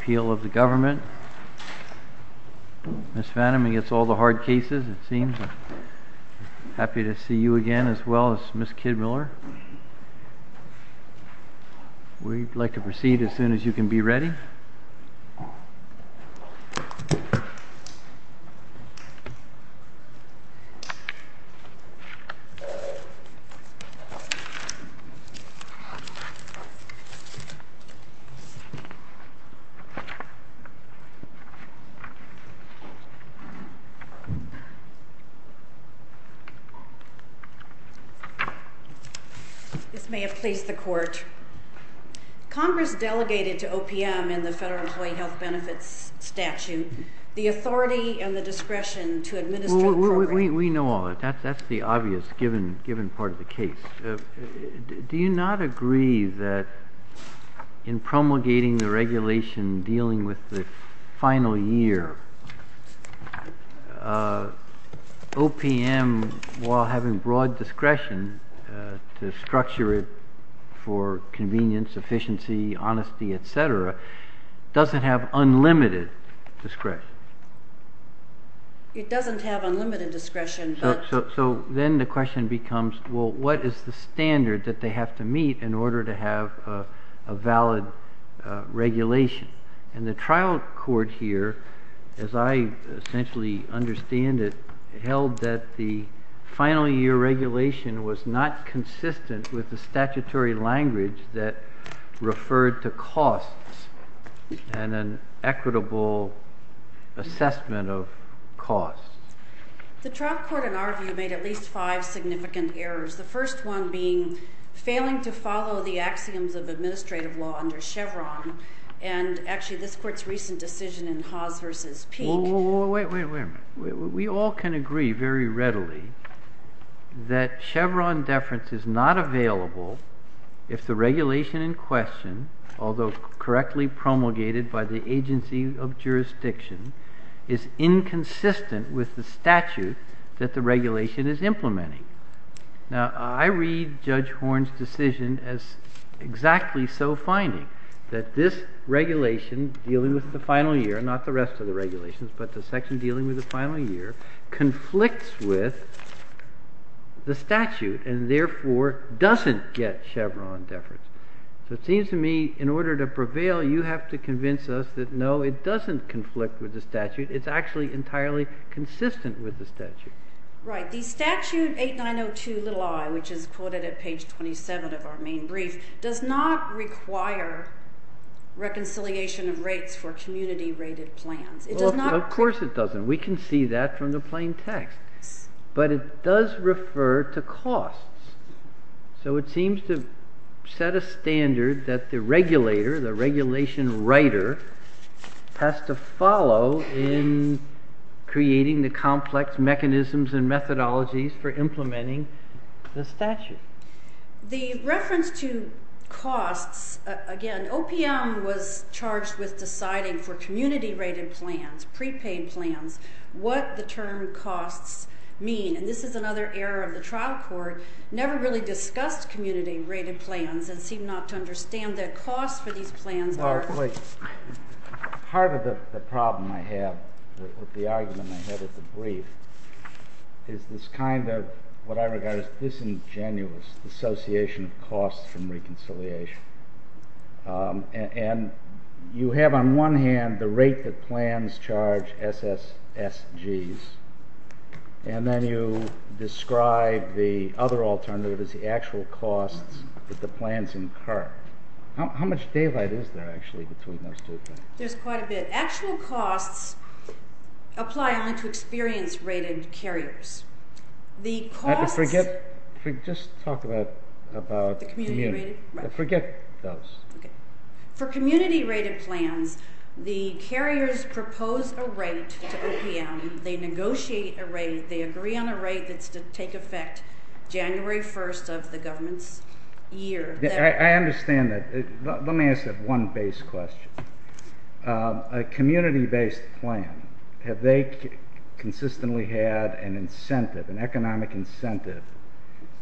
Appeal of the Government Ms. Fannin against all the hard cases it seems, happy to see you again as well as Ms. Kidmiller. We'd like to proceed as soon as you can be ready. This may have pleased the Court. Congress delegated to OPM in the Federal Employee Health Benefits Statute the authority and the discretion to administer the program. We know all that. That's the obvious given part of the case. Do you not agree that in promulgating the regulation dealing with the final year, OPM, while having broad discretion to structure it for convenience, efficiency, honesty, etc., doesn't have unlimited discretion? It doesn't have unlimited discretion. So then the question becomes, well, what is the standard that they have to meet in order to have a valid regulation? And the trial court here, as I essentially understand it, held that the final year regulation was not consistent with the statutory language that referred to costs and an equitable assessment of costs. The trial court, in our view, made at least five significant errors, the first one being failing to follow the axioms of administrative law under Chevron and actually this Court's recent decision in Haas v. Peek. Wait a minute. We all can agree very readily that Chevron deference is not available if the regulation in question, although correctly promulgated by the agency of jurisdiction, is inconsistent with the statute that the regulation is implementing. Now, I read Judge Horne's decision as exactly so finding that this regulation dealing with the final year, not the rest of the regulations, but the section dealing with the final year, conflicts with the statute and therefore doesn't get Chevron deference. So it seems to me in order to prevail, you have to convince us that no, it doesn't conflict with the statute. It's actually entirely consistent with the statute. Right. The statute 8902 i, which is quoted at page 27 of our main brief, does not require reconciliation of rates for community rated plans. Of course it doesn't. We can see that from the plain text. But it does refer to costs. So it seems to set a standard that the regulator, the regulation writer, has to follow in creating the complex mechanisms and methodologies for implementing the statute. The reference to costs, again, OPM was charged with deciding for community rated plans, prepaid plans, what the term costs mean. And this is another error of the trial court, never really discussed community rated plans and seemed not to understand that costs for these plans are. Part of the problem I have with the argument I had at the brief is this kind of, what I regard as disingenuous, dissociation of costs from reconciliation. And you have on one hand the rate that plans charge SSSGs. And then you describe the other alternative as the actual costs that the plans incur. How much daylight is there actually between those two things? There's quite a bit. Actual costs apply only to experience rated carriers. Just talk about the community. Forget those. For community rated plans, the carriers propose a rate to OPM. They negotiate a rate. They agree on a rate that's to take effect January 1st of the government's year. I understand that. Let me ask that one base question. A community based plan, have they consistently had an incentive, an economic incentive,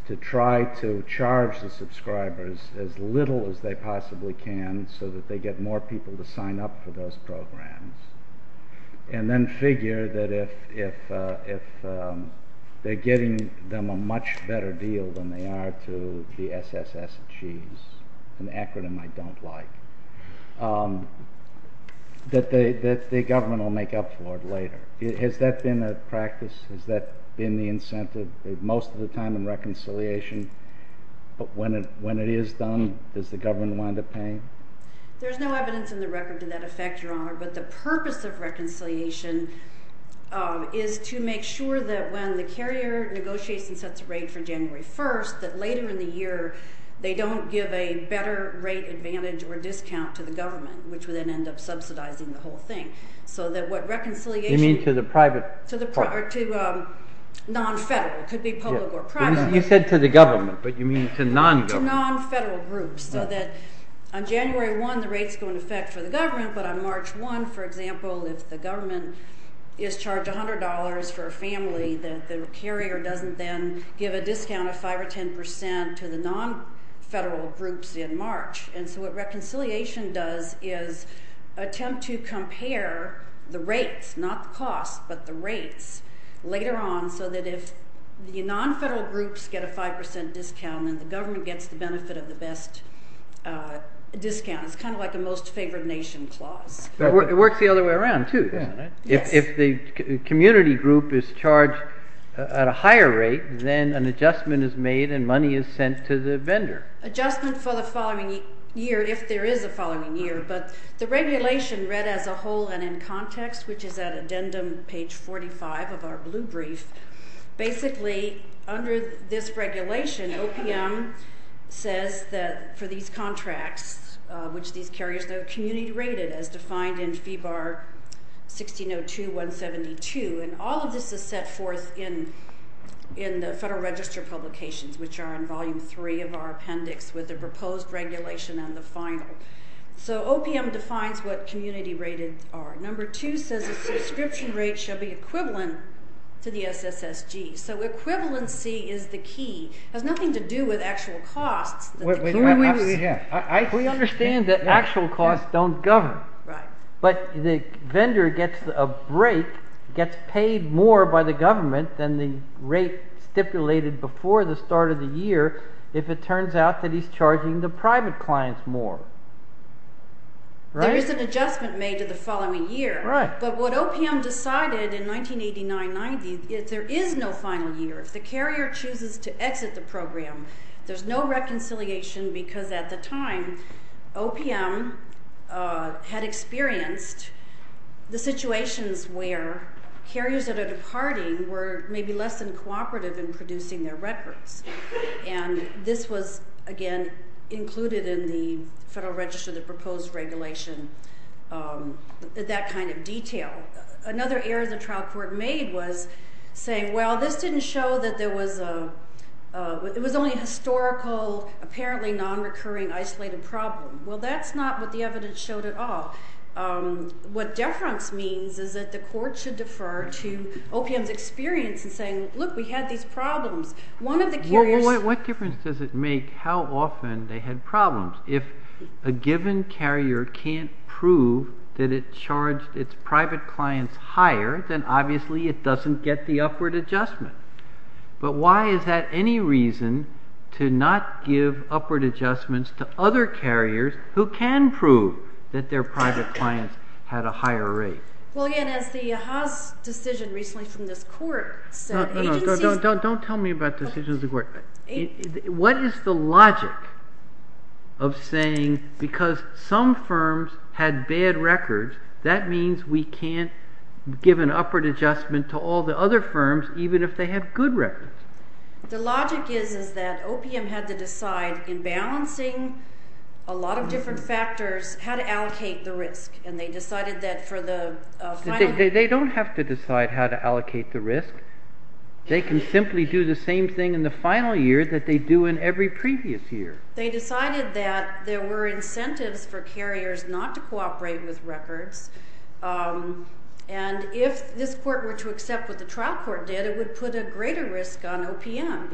to try to charge the subscribers as little as they possibly can so that they get more people to sign up for those programs? And then figure that if they're getting them a much better deal than they are to the SSSGs, an acronym I don't like, that the government will make up for it later. Has that been a practice? Has that been the incentive? Most of the time in reconciliation, but when it is done, does the government wind up paying? There's no evidence in the record to that effect, Your Honor, but the purpose of reconciliation is to make sure that when the carrier negotiates and sets a rate for January 1st, that later in the year, they don't give a better rate advantage or discount to the government, which would then end up subsidizing the whole thing. You mean to the private part? To non-federal. It could be public or private. You said to the government, but you mean to non-government. So that on January 1, the rates go in effect for the government, but on March 1, for example, if the government is charged $100 for a family, that the carrier doesn't then give a discount of 5 or 10% to the non-federal groups in March. And so what reconciliation does is attempt to compare the rates, not the cost, but the rates later on so that if the non-federal groups get a 5% discount and the government gets the benefit of the best discount, it's kind of like a most favored nation clause. It works the other way around too, doesn't it? Yes. If the community group is charged at a higher rate, then an adjustment is made and money is sent to the vendor. Adjustment for the following year, if there is a following year. But the regulation read as a whole and in context, which is at addendum page 45 of our blue brief, basically under this regulation, OPM says that for these contracts, which these carriers are community rated as defined in Fee Bar 1602-172. And all of this is set forth in the Federal Register publications, which are in volume three of our appendix with the proposed regulation and the final. So OPM defines what community rated are. Number two says a subscription rate shall be equivalent to the SSSG. So equivalency is the key. It has nothing to do with actual costs. We understand that actual costs don't govern. Right. But the vendor gets a break, gets paid more by the government than the rate stipulated before the start of the year if it turns out that he's charging the private clients more. There is an adjustment made to the following year. Right. But what OPM decided in 1989-90, if there is no final year, if the carrier chooses to exit the program, there's no reconciliation because at the time OPM had experienced the situations where carriers that are departing were maybe less than cooperative in producing their records. And this was, again, included in the Federal Register, the proposed regulation, that kind of detail. Another error the trial court made was saying, well, this didn't show that there was a—it was only a historical, apparently nonrecurring, isolated problem. Well, that's not what the evidence showed at all. What deference means is that the court should defer to OPM's experience in saying, look, we had these problems. One of the carriers— What difference does it make how often they had problems? If a given carrier can't prove that it charged its private clients higher, then obviously it doesn't get the upward adjustment. But why is that any reason to not give upward adjustments to other carriers who can prove that their private clients had a higher rate? Well, again, as the Haas decision recently from this court said— No, no, no. Don't tell me about decisions of the court. What is the logic of saying because some firms had bad records, that means we can't give an upward adjustment to all the other firms even if they have good records? The logic is that OPM had to decide in balancing a lot of different factors how to allocate the risk. And they decided that for the final— They don't have to decide how to allocate the risk. They can simply do the same thing in the final year that they do in every previous year. They decided that there were incentives for carriers not to cooperate with records. And if this court were to accept what the trial court did, it would put a greater risk on OPM,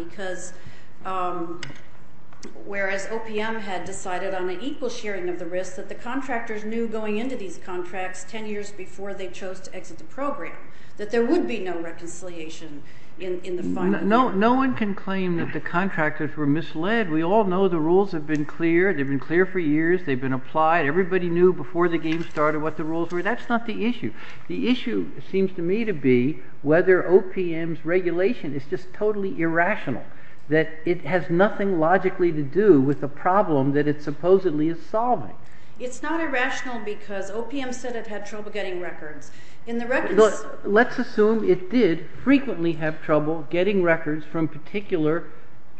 whereas OPM had decided on an equal sharing of the risk that the contractors knew going into these contracts 10 years before they chose to exit the program, that there would be no reconciliation in the final year. No one can claim that the contractors were misled. We all know the rules have been clear. They've been clear for years. They've been applied. Everybody knew before the game started what the rules were. That's not the issue. The issue seems to me to be whether OPM's regulation is just totally irrational, that it has nothing logically to do with the problem that it supposedly is solving. It's not irrational because OPM said it had trouble getting records. In the records— Let's assume it did frequently have trouble getting records from particular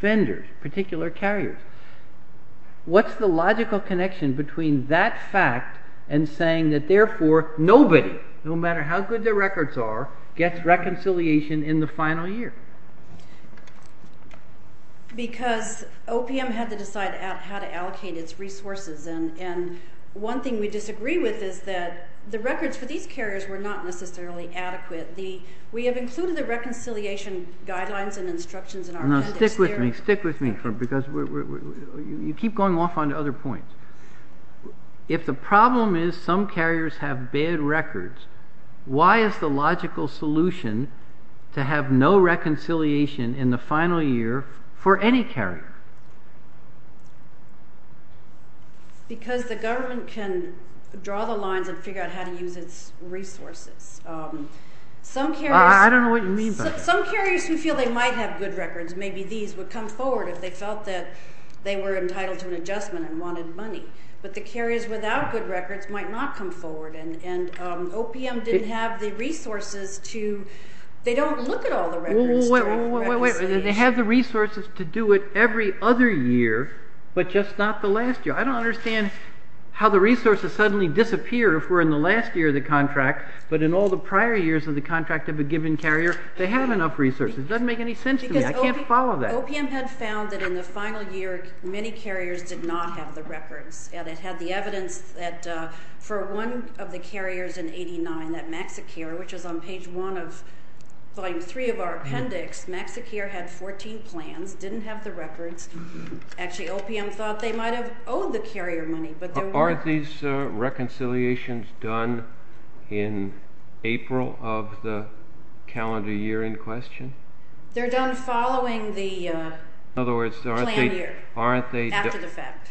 vendors, particular carriers. What's the logical connection between that fact and saying that, therefore, nobody, no matter how good their records are, gets reconciliation in the final year? Because OPM had to decide how to allocate its resources, and one thing we disagree with is that the records for these carriers were not necessarily adequate. We have included the reconciliation guidelines and instructions in our— Stick with me because you keep going off onto other points. If the problem is some carriers have bad records, why is the logical solution to have no reconciliation in the final year for any carrier? Because the government can draw the lines and figure out how to use its resources. Some carriers— I don't know what you mean by that. Some carriers who feel they might have good records, maybe these would come forward if they felt that they were entitled to an adjustment and wanted money. But the carriers without good records might not come forward, and OPM didn't have the resources to—they don't look at all the records. Wait, wait, wait. They have the resources to do it every other year, but just not the last year. I don't understand how the resources suddenly disappear if we're in the last year of the contract, but in all the prior years of the contract of a given carrier, they have enough resources. It doesn't make any sense to me. I can't follow that. Because OPM had found that in the final year, many carriers did not have the records, and it had the evidence that for one of the carriers in 89, that MaxiCare, which is on page one of volume three of our appendix, MaxiCare had 14 plans, didn't have the records. Actually, OPM thought they might have owed the carrier money, but they weren't. Are these reconciliations done in April of the calendar year in question? They're done following the planned year, after the fact.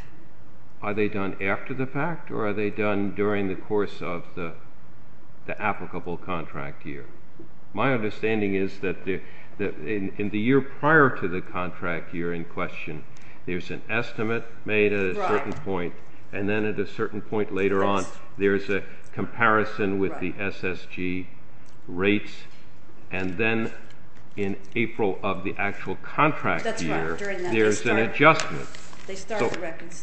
Are they done after the fact, or are they done during the course of the applicable contract year? My understanding is that in the year prior to the contract year in question, there's an estimate made at a certain point, and then at a certain point later on, there's a comparison with the SSG rates, and then in April of the actual contract year, there's an adjustment,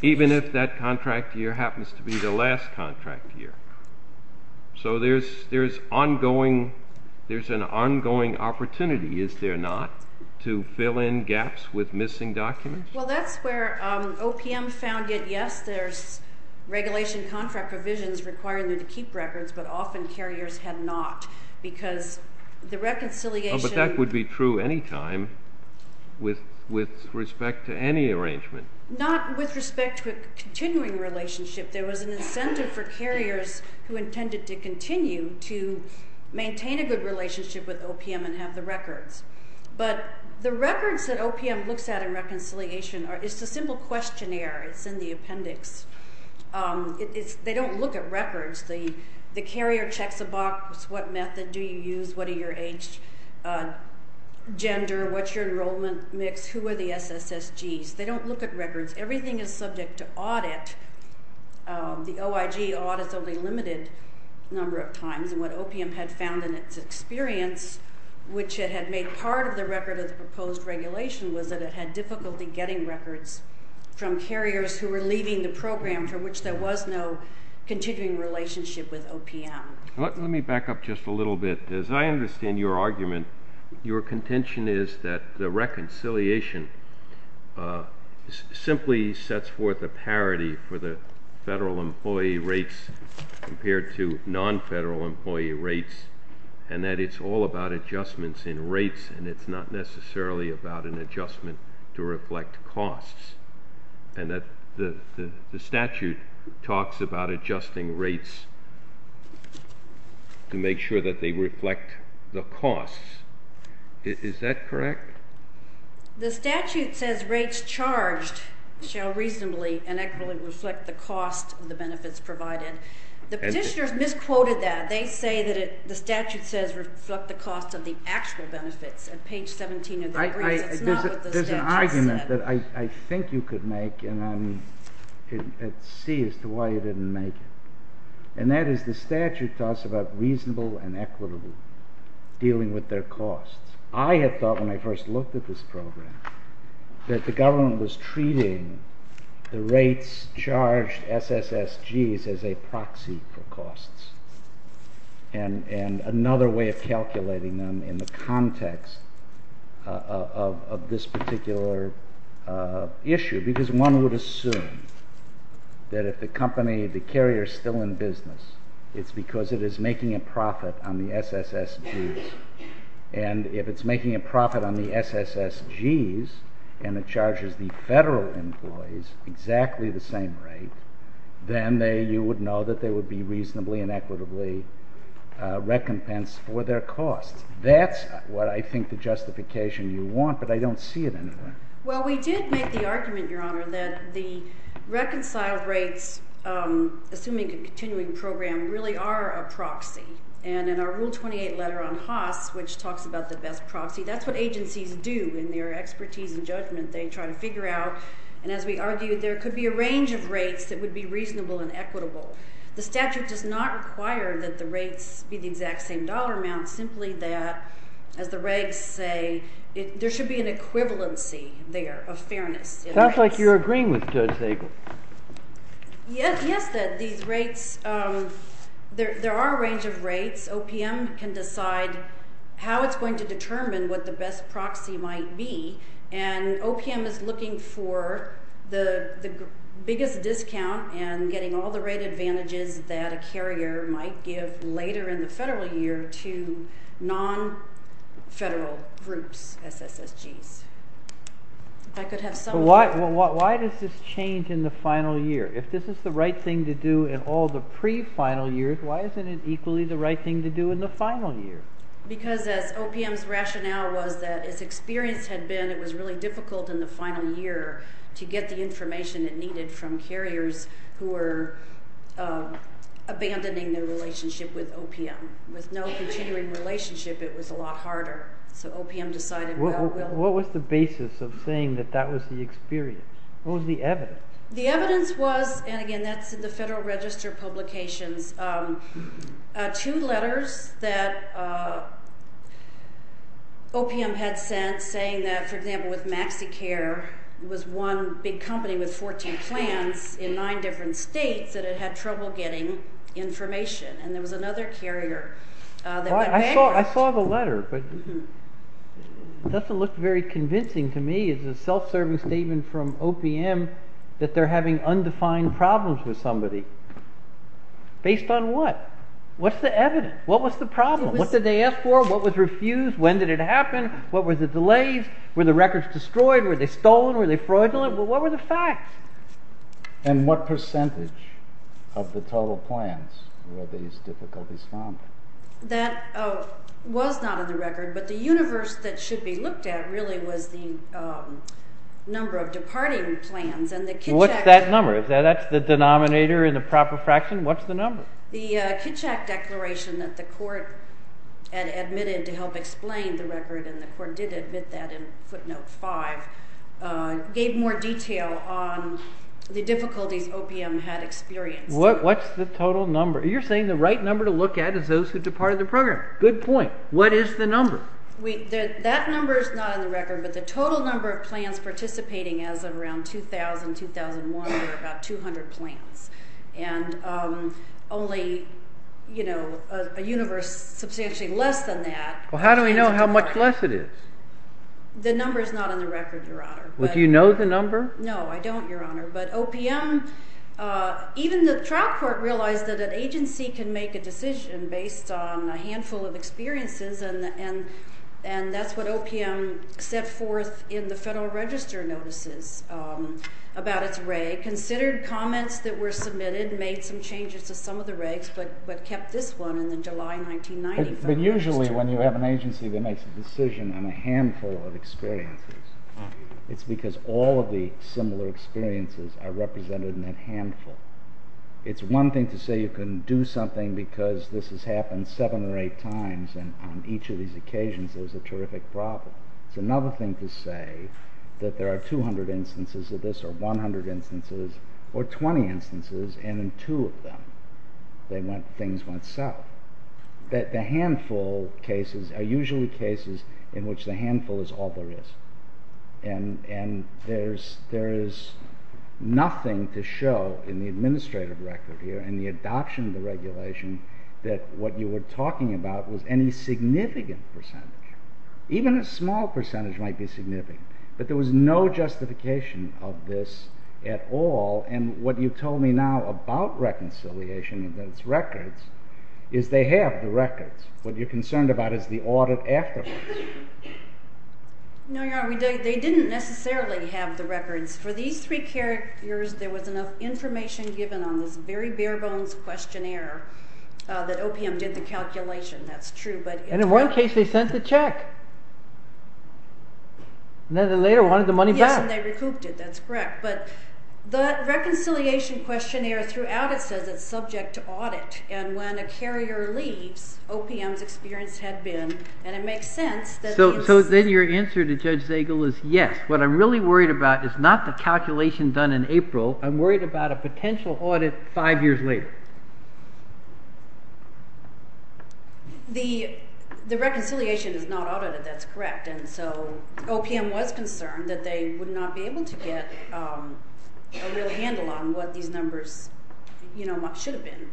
even if that contract year happens to be the last contract year. So there's an ongoing opportunity, is there not, to fill in gaps with missing documents? Well, that's where OPM found it. Yes, there's regulation contract provisions requiring them to keep records, but often carriers had not because the reconciliation— But that would be true any time with respect to any arrangement. Not with respect to a continuing relationship. There was an incentive for carriers who intended to continue to maintain a good relationship with OPM and have the records. But the records that OPM looks at in reconciliation are—it's a simple questionnaire. It's in the appendix. They don't look at records. The carrier checks a box. What method do you use? What are your age, gender? What's your enrollment mix? Who are the SSSGs? They don't look at records. Everything is subject to audit. The OIG audits only a limited number of times, and what OPM had found in its experience, which it had made part of the record of the proposed regulation, was that it had difficulty getting records from carriers who were leaving the program for which there was no continuing relationship with OPM. Let me back up just a little bit. As I understand your argument, your contention is that the reconciliation simply sets forth a parity for the federal employee rates compared to non-federal employee rates and that it's all about adjustments in rates and it's not necessarily about an adjustment to reflect costs and that the statute talks about adjusting rates to make sure that they reflect the costs. Is that correct? The statute says rates charged shall reasonably and equitably reflect the cost of the benefits provided. The petitioners misquoted that. They say that the statute says reflect the cost of the actual benefits. There's an argument that I think you could make, and I'm at sea as to why you didn't make it, and that is the statute talks about reasonable and equitable, dealing with their costs. I had thought when I first looked at this program that the government was treating the rates charged SSSGs as a proxy for costs and another way of calculating them in the context of this particular issue because one would assume that if the carrier is still in business, it's because it is making a profit on the SSSGs, and if it's making a profit on the SSSGs and it charges the federal employees exactly the same rate, then you would know that they would be reasonably and equitably recompensed for their costs. That's what I think the justification you want, but I don't see it anywhere. Well, we did make the argument, Your Honor, that the reconciled rates, assuming a continuing program, really are a proxy, and in our Rule 28 letter on Haas, which talks about the best proxy, that's what agencies do in their expertise and judgment. They try to figure out, and as we argued, there could be a range of rates that would be reasonable and equitable. The statute does not require that the rates be the exact same dollar amount, simply that, as the regs say, there should be an equivalency there of fairness. It sounds like you're agreeing with Judge Zabel. Yes, that these rates, there are a range of rates. OPM can decide how it's going to determine what the best proxy might be, and OPM is looking for the biggest discount and getting all the rate advantages that a carrier might give later in the federal year to non-federal groups, SSSGs. Why does this change in the final year? If this is the right thing to do in all the pre-final years, why isn't it equally the right thing to do in the final year? Because as OPM's rationale was that its experience had been it was really difficult in the final year to get the information it needed from carriers who were abandoning their relationship with OPM. With no continuing relationship, it was a lot harder. So OPM decided well, we'll... What was the basis of saying that that was the experience? What was the evidence? The evidence was, and again, that's in the Federal Register Publications, two letters that OPM had sent saying that, for example, with MaxiCare, it was one big company with 14 plants in nine different states that it had trouble getting information. And there was another carrier that went back... I saw the letter, but it doesn't look very convincing to me. It's a self-serving statement from OPM that they're having undefined problems with somebody. Based on what? What's the evidence? What was the problem? What did they ask for? What was refused? When did it happen? What were the delays? Were the records destroyed? Were they stolen? Were they fraudulent? What were the facts? And what percentage of the total plants were these difficulties found? That was not in the record, but the universe that should be looked at really was the number of departing plants. What's that number? Is that the denominator in the proper fraction? What's the number? The Kitchak Declaration that the court had admitted to help explain the record, and the court did admit that in footnote 5, gave more detail on the difficulties OPM had experienced. What's the total number? You're saying the right number to look at is those who departed the program. Good point. What is the number? That number is not in the record, but the total number of plants participating as of around 2000-2001 were about 200 plants, and only a universe substantially less than that. Well, how do we know how much less it is? The number is not in the record, Your Honor. Well, do you know the number? No, I don't, Your Honor. But OPM, even the trial court realized that an agency can make a decision based on a handful of experiences, and that's what OPM set forth in the Federal Register notices about its reg. Considered comments that were submitted, made some changes to some of the regs, but kept this one in the July 1990 Federal Register. But usually when you have an agency that makes a decision on a handful of experiences, it's because all of the similar experiences are represented in that handful. It's one thing to say you can do something because this has happened seven or eight times, and on each of these occasions there's a terrific problem. It's another thing to say that there are 200 instances of this, or 100 instances, or 20 instances, and in two of them things went south. The handful cases are usually cases in which the handful is all there is. And there is nothing to show in the administrative record here and the adoption of the regulation that what you were talking about was any significant percentage. Even a small percentage might be significant, but there was no justification of this at all. And what you told me now about reconciliation and its records is they have the records. What you're concerned about is the audit afterwards. No, Your Honor, they didn't necessarily have the records. For these three characters there was enough information given on this very bare-bones questionnaire that OPM did the calculation. That's true. And in one case they sent the check. And then later wanted the money back. Yes, and they recouped it. That's correct. But the reconciliation questionnaire throughout it says it's subject to audit, and when a carrier leaves, OPM's experience had been, and it makes sense. So then your answer to Judge Zagel is yes. What I'm really worried about is not the calculation done in April. I'm worried about a potential audit five years later. The reconciliation is not audited. That's correct. And so OPM was concerned that they would not be able to get a real handle on what these numbers should have been.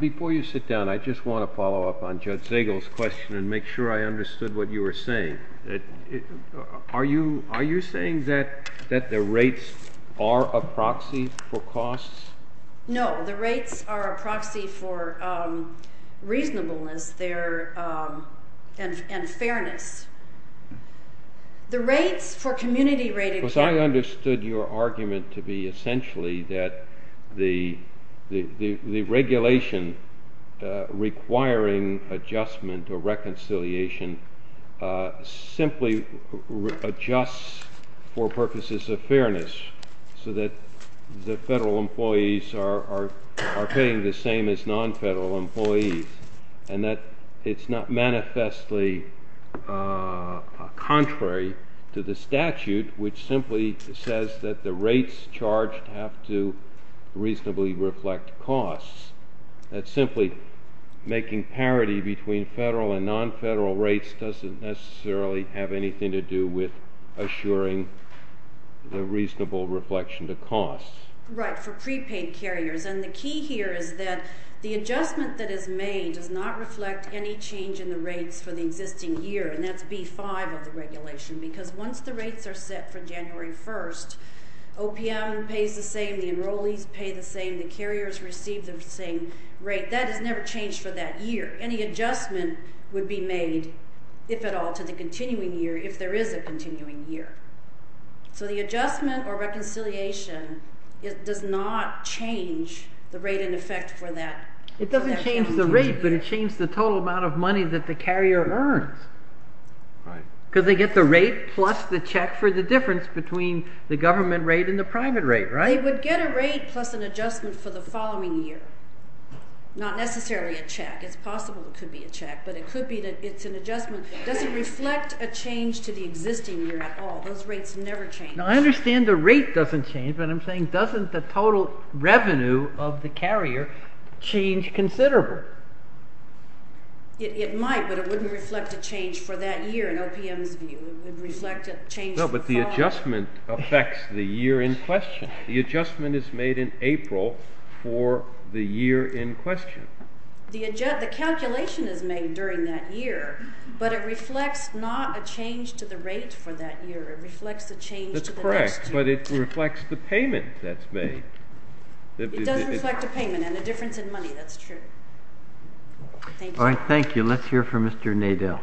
Before you sit down, I just want to follow up on Judge Zagel's question and make sure I understood what you were saying. Are you saying that the rates are a proxy for costs? No. The rates are a proxy for reasonableness and fairness. The rates for community-rated... Because I understood your argument to be essentially that the regulation requiring adjustment or reconciliation simply adjusts for purposes of fairness so that the federal employees are paying the same as nonfederal employees and that it's not manifestly contrary to the statute, which simply says that the rates charged have to reasonably reflect costs. That simply making parity between federal and nonfederal rates doesn't necessarily have anything to do with assuring the reasonable reflection to costs. Right, for prepaid carriers. And the key here is that the adjustment that is made does not reflect any change in the rates for the existing year, and that's B-5 of the regulation, because once the rates are set for January 1st, OPM pays the same, the enrollees pay the same, the carriers receive the same rate. That has never changed for that year. Any adjustment would be made, if at all, to the continuing year if there is a continuing year. So the adjustment or reconciliation does not change the rate in effect for that year. It doesn't change the rate, but it changes the total amount of money that the carrier earns, because they get the rate plus the check for the difference between the government rate and the private rate, right? They would get a rate plus an adjustment for the following year, not necessarily a check. It's possible it could be a check, but it could be that it's an adjustment. It doesn't reflect a change to the existing year at all. Those rates never change. Now, I understand the rate doesn't change, but I'm saying doesn't the total revenue of the carrier change considerably? It might, but it wouldn't reflect a change for that year in OPM's view. It would reflect a change for the following year. The adjustment affects the year in question. The adjustment is made in April for the year in question. The calculation is made during that year, but it reflects not a change to the rate for that year. It reflects a change to the next year. That's correct, but it reflects the payment that's made. It doesn't reflect a payment and a difference in money. That's true. All right, thank you. Let's hear from Mr. Nadel.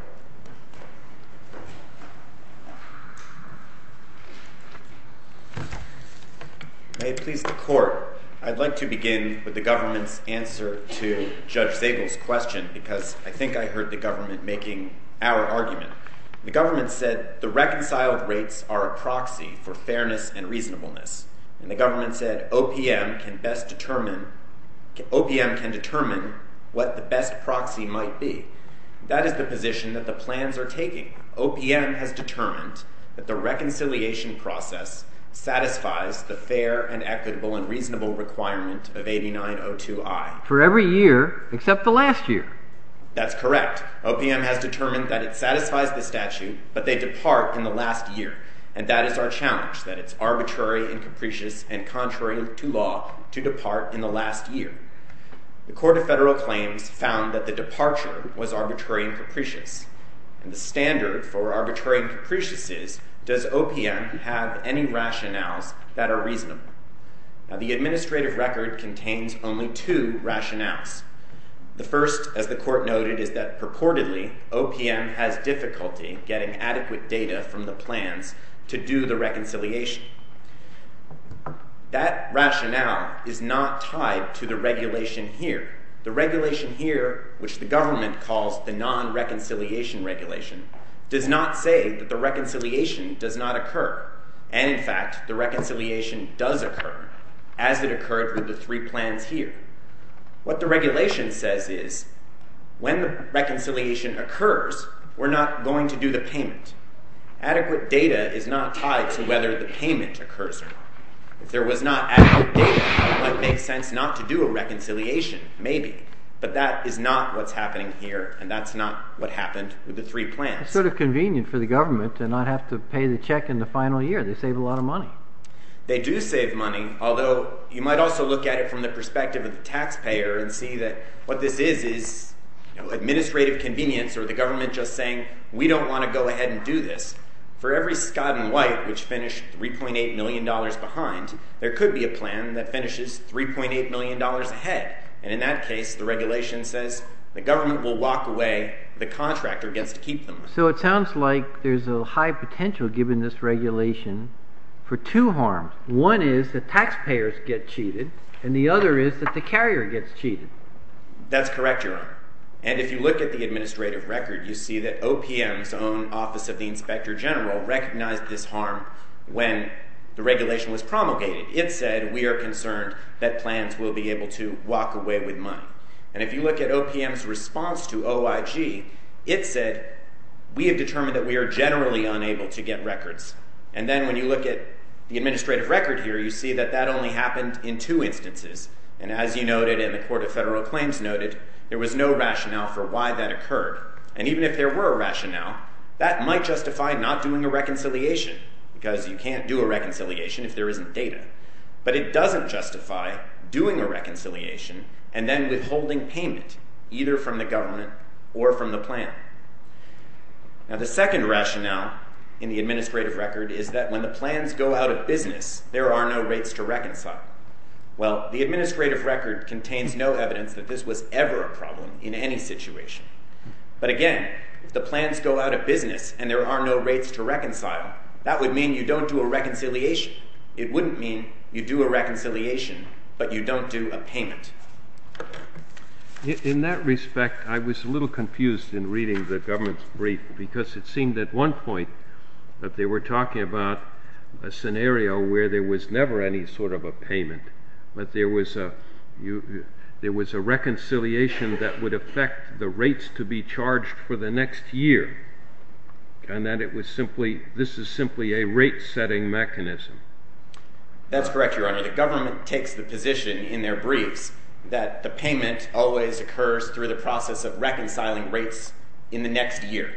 May it please the Court, I'd like to begin with the government's answer to Judge Zagel's question because I think I heard the government making our argument. The government said the reconciled rates are a proxy for fairness and reasonableness, and the government said OPM can determine what the best proxy might be. That is the position that the plans are taking. OPM has determined that the reconciliation process satisfies the fair and equitable and reasonable requirement of 8902I. For every year except the last year. That's correct. OPM has determined that it satisfies the statute, but they depart in the last year, and that is our challenge, that it's arbitrary and capricious and contrary to law to depart in the last year. The Court of Federal Claims found that the departure was arbitrary and capricious, and the standard for arbitrary and capricious is, does OPM have any rationales that are reasonable? Now, the administrative record contains only two rationales. The first, as the Court noted, is that purportedly, OPM has difficulty getting adequate data from the plans to do the reconciliation. That rationale is not tied to the regulation here. The regulation here, which the government calls the non-reconciliation regulation, does not say that the reconciliation does not occur. And, in fact, the reconciliation does occur, as it occurred with the three plans here. What the regulation says is, when the reconciliation occurs, we're not going to do the payment. Adequate data is not tied to whether the payment occurs or not. If there was not adequate data, it might make sense not to do a reconciliation, maybe. But that is not what's happening here, and that's not what happened with the three plans. It's sort of convenient for the government to not have to pay the check in the final year. They save a lot of money. They do save money, although you might also look at it from the perspective of the taxpayer and see that what this is is administrative convenience, or the government just saying, we don't want to go ahead and do this. For every Scott and White, which finished $3.8 million behind, there could be a plan that finishes $3.8 million ahead. And in that case, the regulation says, the government will walk away. The contractor gets to keep them. So it sounds like there's a high potential, given this regulation, for two harms. One is that taxpayers get cheated, and the other is that the carrier gets cheated. That's correct, Your Honor. And if you look at the administrative record, you see that OPM's own Office of the Inspector General recognized this harm when the regulation was promulgated. It said, we are concerned that plans will be able to walk away with money. And if you look at OPM's response to OIG, it said, we have determined that we are generally unable to get records. And then when you look at the administrative record here, you see that that only happened in two instances. And as you noted, and the Court of Federal Claims noted, there was no rationale for why that occurred. And even if there were a rationale, that might justify not doing a reconciliation, because you can't do a reconciliation if there isn't data. But it doesn't justify doing a reconciliation and then withholding payment, either from the government or from the plan. Now, the second rationale in the administrative record is that when the plans go out of business, there are no rates to reconcile. Well, the administrative record contains no evidence that this was ever a problem in any situation. But again, if the plans go out of business and there are no rates to reconcile, that would mean you don't do a reconciliation. It wouldn't mean you do a reconciliation, but you don't do a payment. In that respect, I was a little confused in reading the government's brief, because it seemed at one point that they were talking about a scenario where there was never any sort of a payment, but there was a reconciliation that would affect the rates to be charged for the next year, and that this is simply a rate-setting mechanism. That's correct, Your Honor. The government takes the position in their briefs that the payment always occurs through the process of reconciling rates in the next year.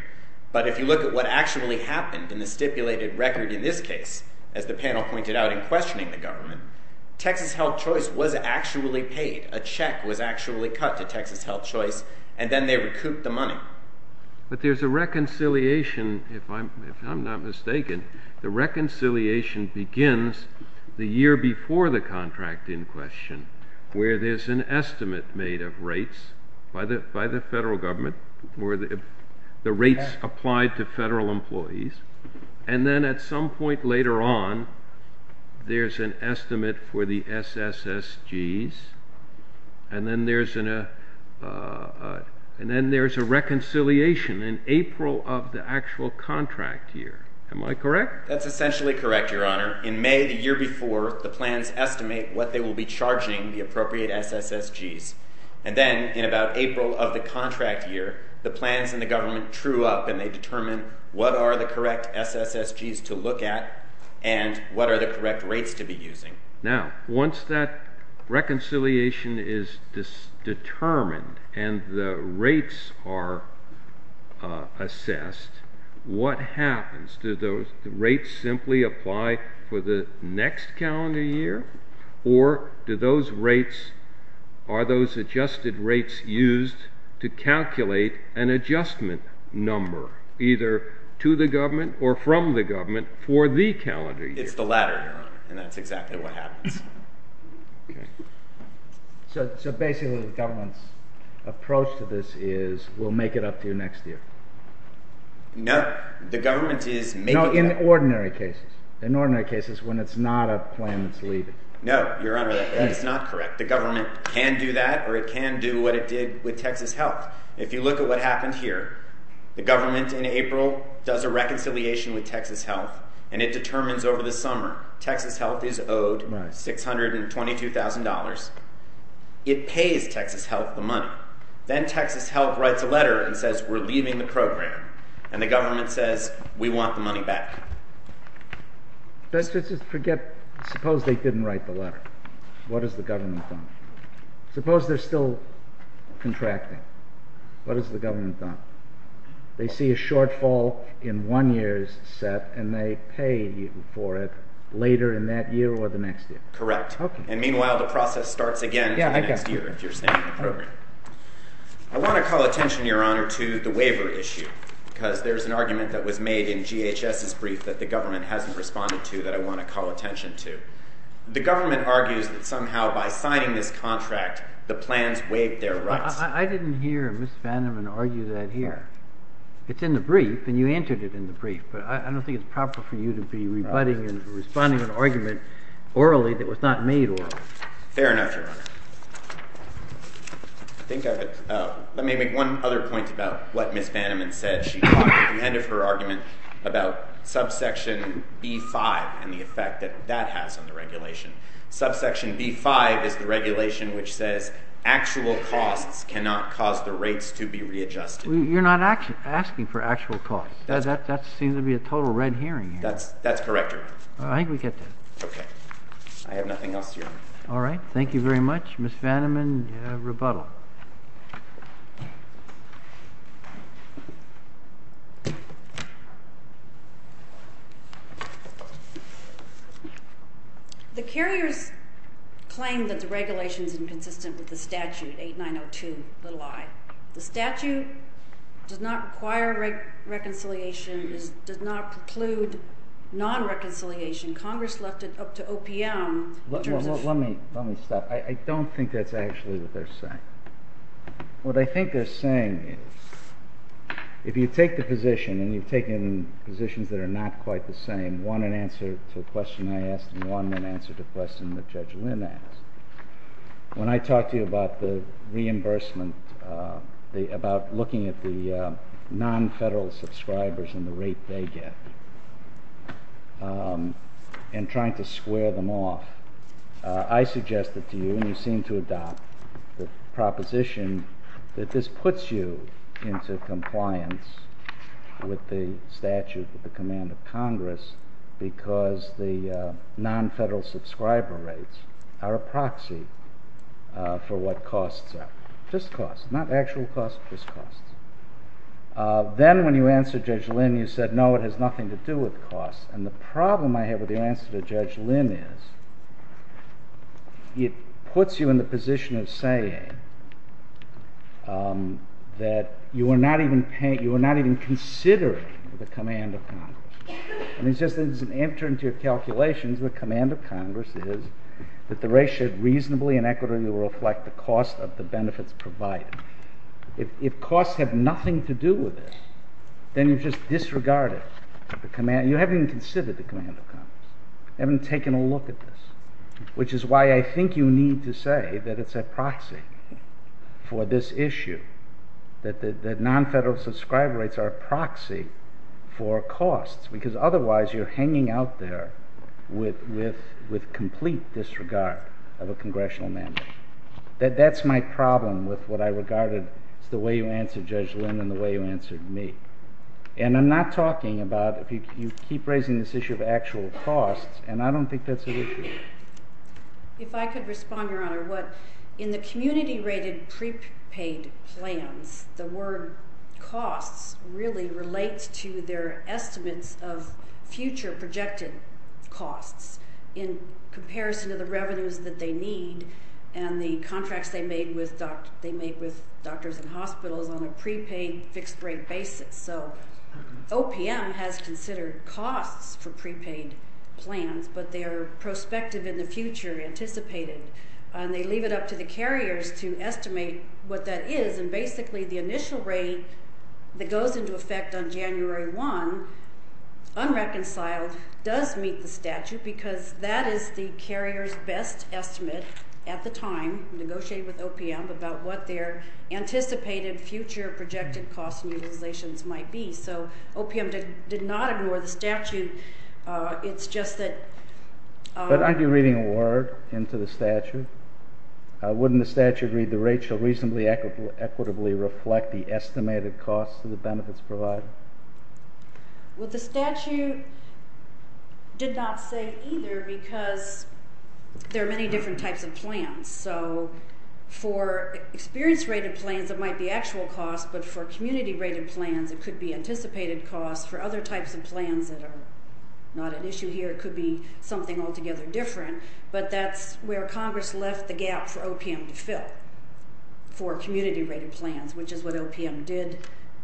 But if you look at what actually happened in the stipulated record in this case, as the panel pointed out in questioning the government, Texas Health Choice was actually paid. A check was actually cut to Texas Health Choice, and then they recouped the money. But there's a reconciliation, if I'm not mistaken. The reconciliation begins the year before the contract in question, where there's an estimate made of rates by the federal government, the rates applied to federal employees, and then at some point later on there's an estimate for the SSSGs, and then there's a reconciliation in April of the actual contract year. Am I correct? That's essentially correct, Your Honor. In May the year before, the plans estimate what they will be charging the appropriate SSSGs. And then in about April of the contract year, the plans and the government true up and they determine what are the correct SSSGs to look at and what are the correct rates to be using. Now, once that reconciliation is determined and the rates are assessed, what happens? Do the rates simply apply for the next calendar year? Or are those adjusted rates used to calculate an adjustment number, either to the government or from the government, for the calendar year? It's the latter, Your Honor. And that's exactly what happens. Okay. So basically the government's approach to this is we'll make it up to you next year. No. The government is making... No, in ordinary cases. In ordinary cases when it's not a plan that's leaving. No, Your Honor, that is not correct. The government can do that or it can do what it did with Texas Health. If you look at what happened here, the government in April does a reconciliation with Texas Health and it determines over the summer Texas Health is owed $622,000. It pays Texas Health the money. Then Texas Health writes a letter and says we're leaving the program and the government says we want the money back. Let's just forget... Suppose they didn't write the letter. What has the government done? Suppose they're still contracting. What has the government done? They see a shortfall in one year's set and they pay for it later in that year or the next year. Correct. And meanwhile the process starts again in the next year if you're staying in the program. I want to call attention, Your Honor, to the waiver issue because there's an argument that was made in GHS's brief that the government hasn't responded to that I want to call attention to. The government argues that somehow by signing this contract the plans waive their rights. I didn't hear Ms. Vandeman argue that here. It's in the brief and you entered it in the brief but I don't think it's proper for you to be rebutting and responding to an argument orally that was not made orally. Fair enough, Your Honor. Let me make one other point about what Ms. Vandeman said. She talked at the end of her argument about subsection B-5 and the effect that that has on the regulation. Subsection B-5 is the regulation which says actual costs cannot cause the rates to be readjusted. You're not asking for actual costs. That seems to be a total red herring here. That's correct, Your Honor. I think we get that. Okay. I have nothing else, Your Honor. All right. Thank you very much. Ms. Vandeman, rebuttal. The carriers claim that the regulation is inconsistent with the statute 8902. The statute does not require reconciliation, does not preclude non-reconciliation. Congress left it up to OPM. Let me stop. I don't think that's actually what they're saying. What I think they're saying is if you take the position and you've taken positions that are not quite the same, one in answer to a question I asked and one in answer to a question that Judge Lynn asked, when I talk to you about the reimbursement, about looking at the non-federal subscribers and the rate they get and trying to square them off, I suggest it to you, and you seem to adopt the proposition that this puts you into compliance with the statute at the command of Congress because the non-federal subscriber rates are a proxy for what costs are. Just costs, not actual costs, just costs. Then when you answered Judge Lynn, you said, no, it has nothing to do with costs. And the problem I have with your answer to Judge Lynn is it puts you in the position of saying that you are not even considering the command of Congress. And it's just that it doesn't enter into your calculations what command of Congress is, that the ratio reasonably and equitably reflect the cost of the benefits provided. If costs have nothing to do with it, then you've just disregarded the command. You haven't even considered the command of Congress. You haven't taken a look at this, which is why I think you need to say that it's a proxy for this issue, that non-federal subscriber rates are a proxy for costs because otherwise you're hanging out there with complete disregard of a congressional mandate. That's my problem with what I regarded as the way you answered Judge Lynn and the way you answered me. And I'm not talking about if you keep raising this issue of actual costs, and I don't think that's an issue. If I could respond, Your Honor, what in the community-rated prepaid plans, the word costs really relates to their estimates of future projected costs in comparison to the revenues that they need and the contracts they made with doctors and hospitals on a prepaid, fixed-rate basis. So OPM has considered costs for prepaid plans, but their prospective in the future, anticipated, and they leave it up to the carriers to estimate what that is, and basically the initial rate that goes into effect on January 1, unreconciled, does meet the statute because that is the carrier's best estimate at the time, negotiated with OPM, about what their anticipated future projected costs and utilizations might be. So OPM did not ignore the statute. It's just that... But aren't you reading a word into the statute? Wouldn't the statute read, the rate shall reasonably equitably reflect the estimated costs of the benefits provided? Well, the statute did not say either because there are many different types of plans. So for experience-rated plans, it might be actual costs, but for community-rated plans, it could be anticipated costs. For other types of plans that are not an issue here, it could be something altogether different, but that's where Congress left the gap for OPM to fill, for community-rated plans, which is what OPM did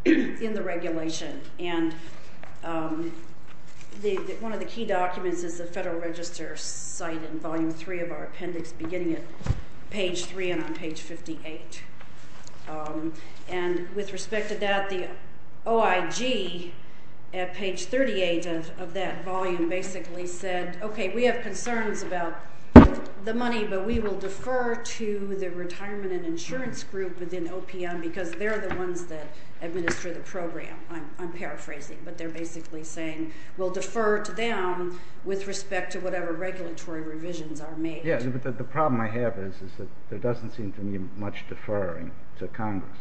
in the regulation. And one of the key documents is the Federal Register's site in Volume 3 of our appendix, beginning at page 3 and on page 58. And with respect to that, the OIG at page 38 of that volume basically said, okay, we have concerns about the money, but we will defer to the retirement and insurance group within OPM because they're the ones that administer the program. I'm paraphrasing, but they're basically saying we'll defer to them with respect to whatever regulatory revisions are made. Yeah, but the problem I have is that there doesn't seem to be much deferring to Congress.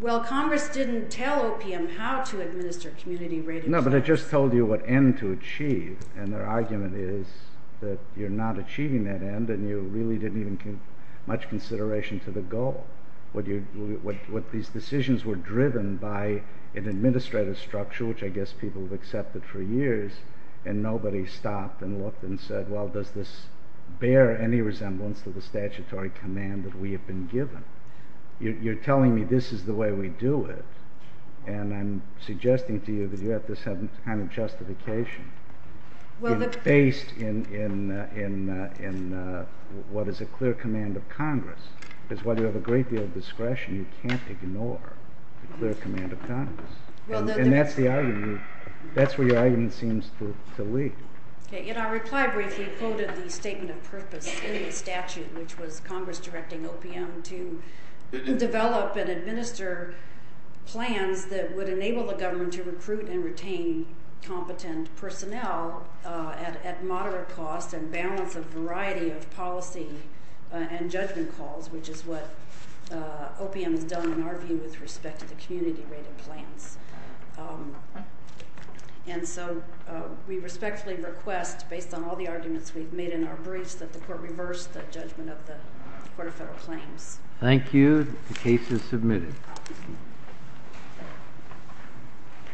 Well, Congress didn't tell OPM how to administer community-rated plans. No, but it just told you what end to achieve, and their argument is that you're not achieving that end and you really didn't even give much consideration to the goal. These decisions were driven by an administrative structure, which I guess people have accepted for years, and nobody stopped and looked and said, well, does this bear any resemblance to the statutory command that we have been given? You're telling me this is the way we do it, and I'm suggesting to you that you have this kind of justification based in what is a clear command of Congress, because while you have a great deal of discretion, you can't ignore the clear command of Congress. And that's the argument. That's where your argument seems to lead. In our reply brief, we quoted the statement of purpose in the statute, which was Congress directing OPM to develop and administer plans that would enable the government to recruit and retain competent personnel at moderate cost and balance a variety of policy and judgment calls, which is what OPM has done, in our view, with respect to the community-rated plans. And so we respectfully request, based on all the arguments we've made in our briefs, that the Court reverse the judgment of the Court of Federal Claims. Thank you. The case is submitted.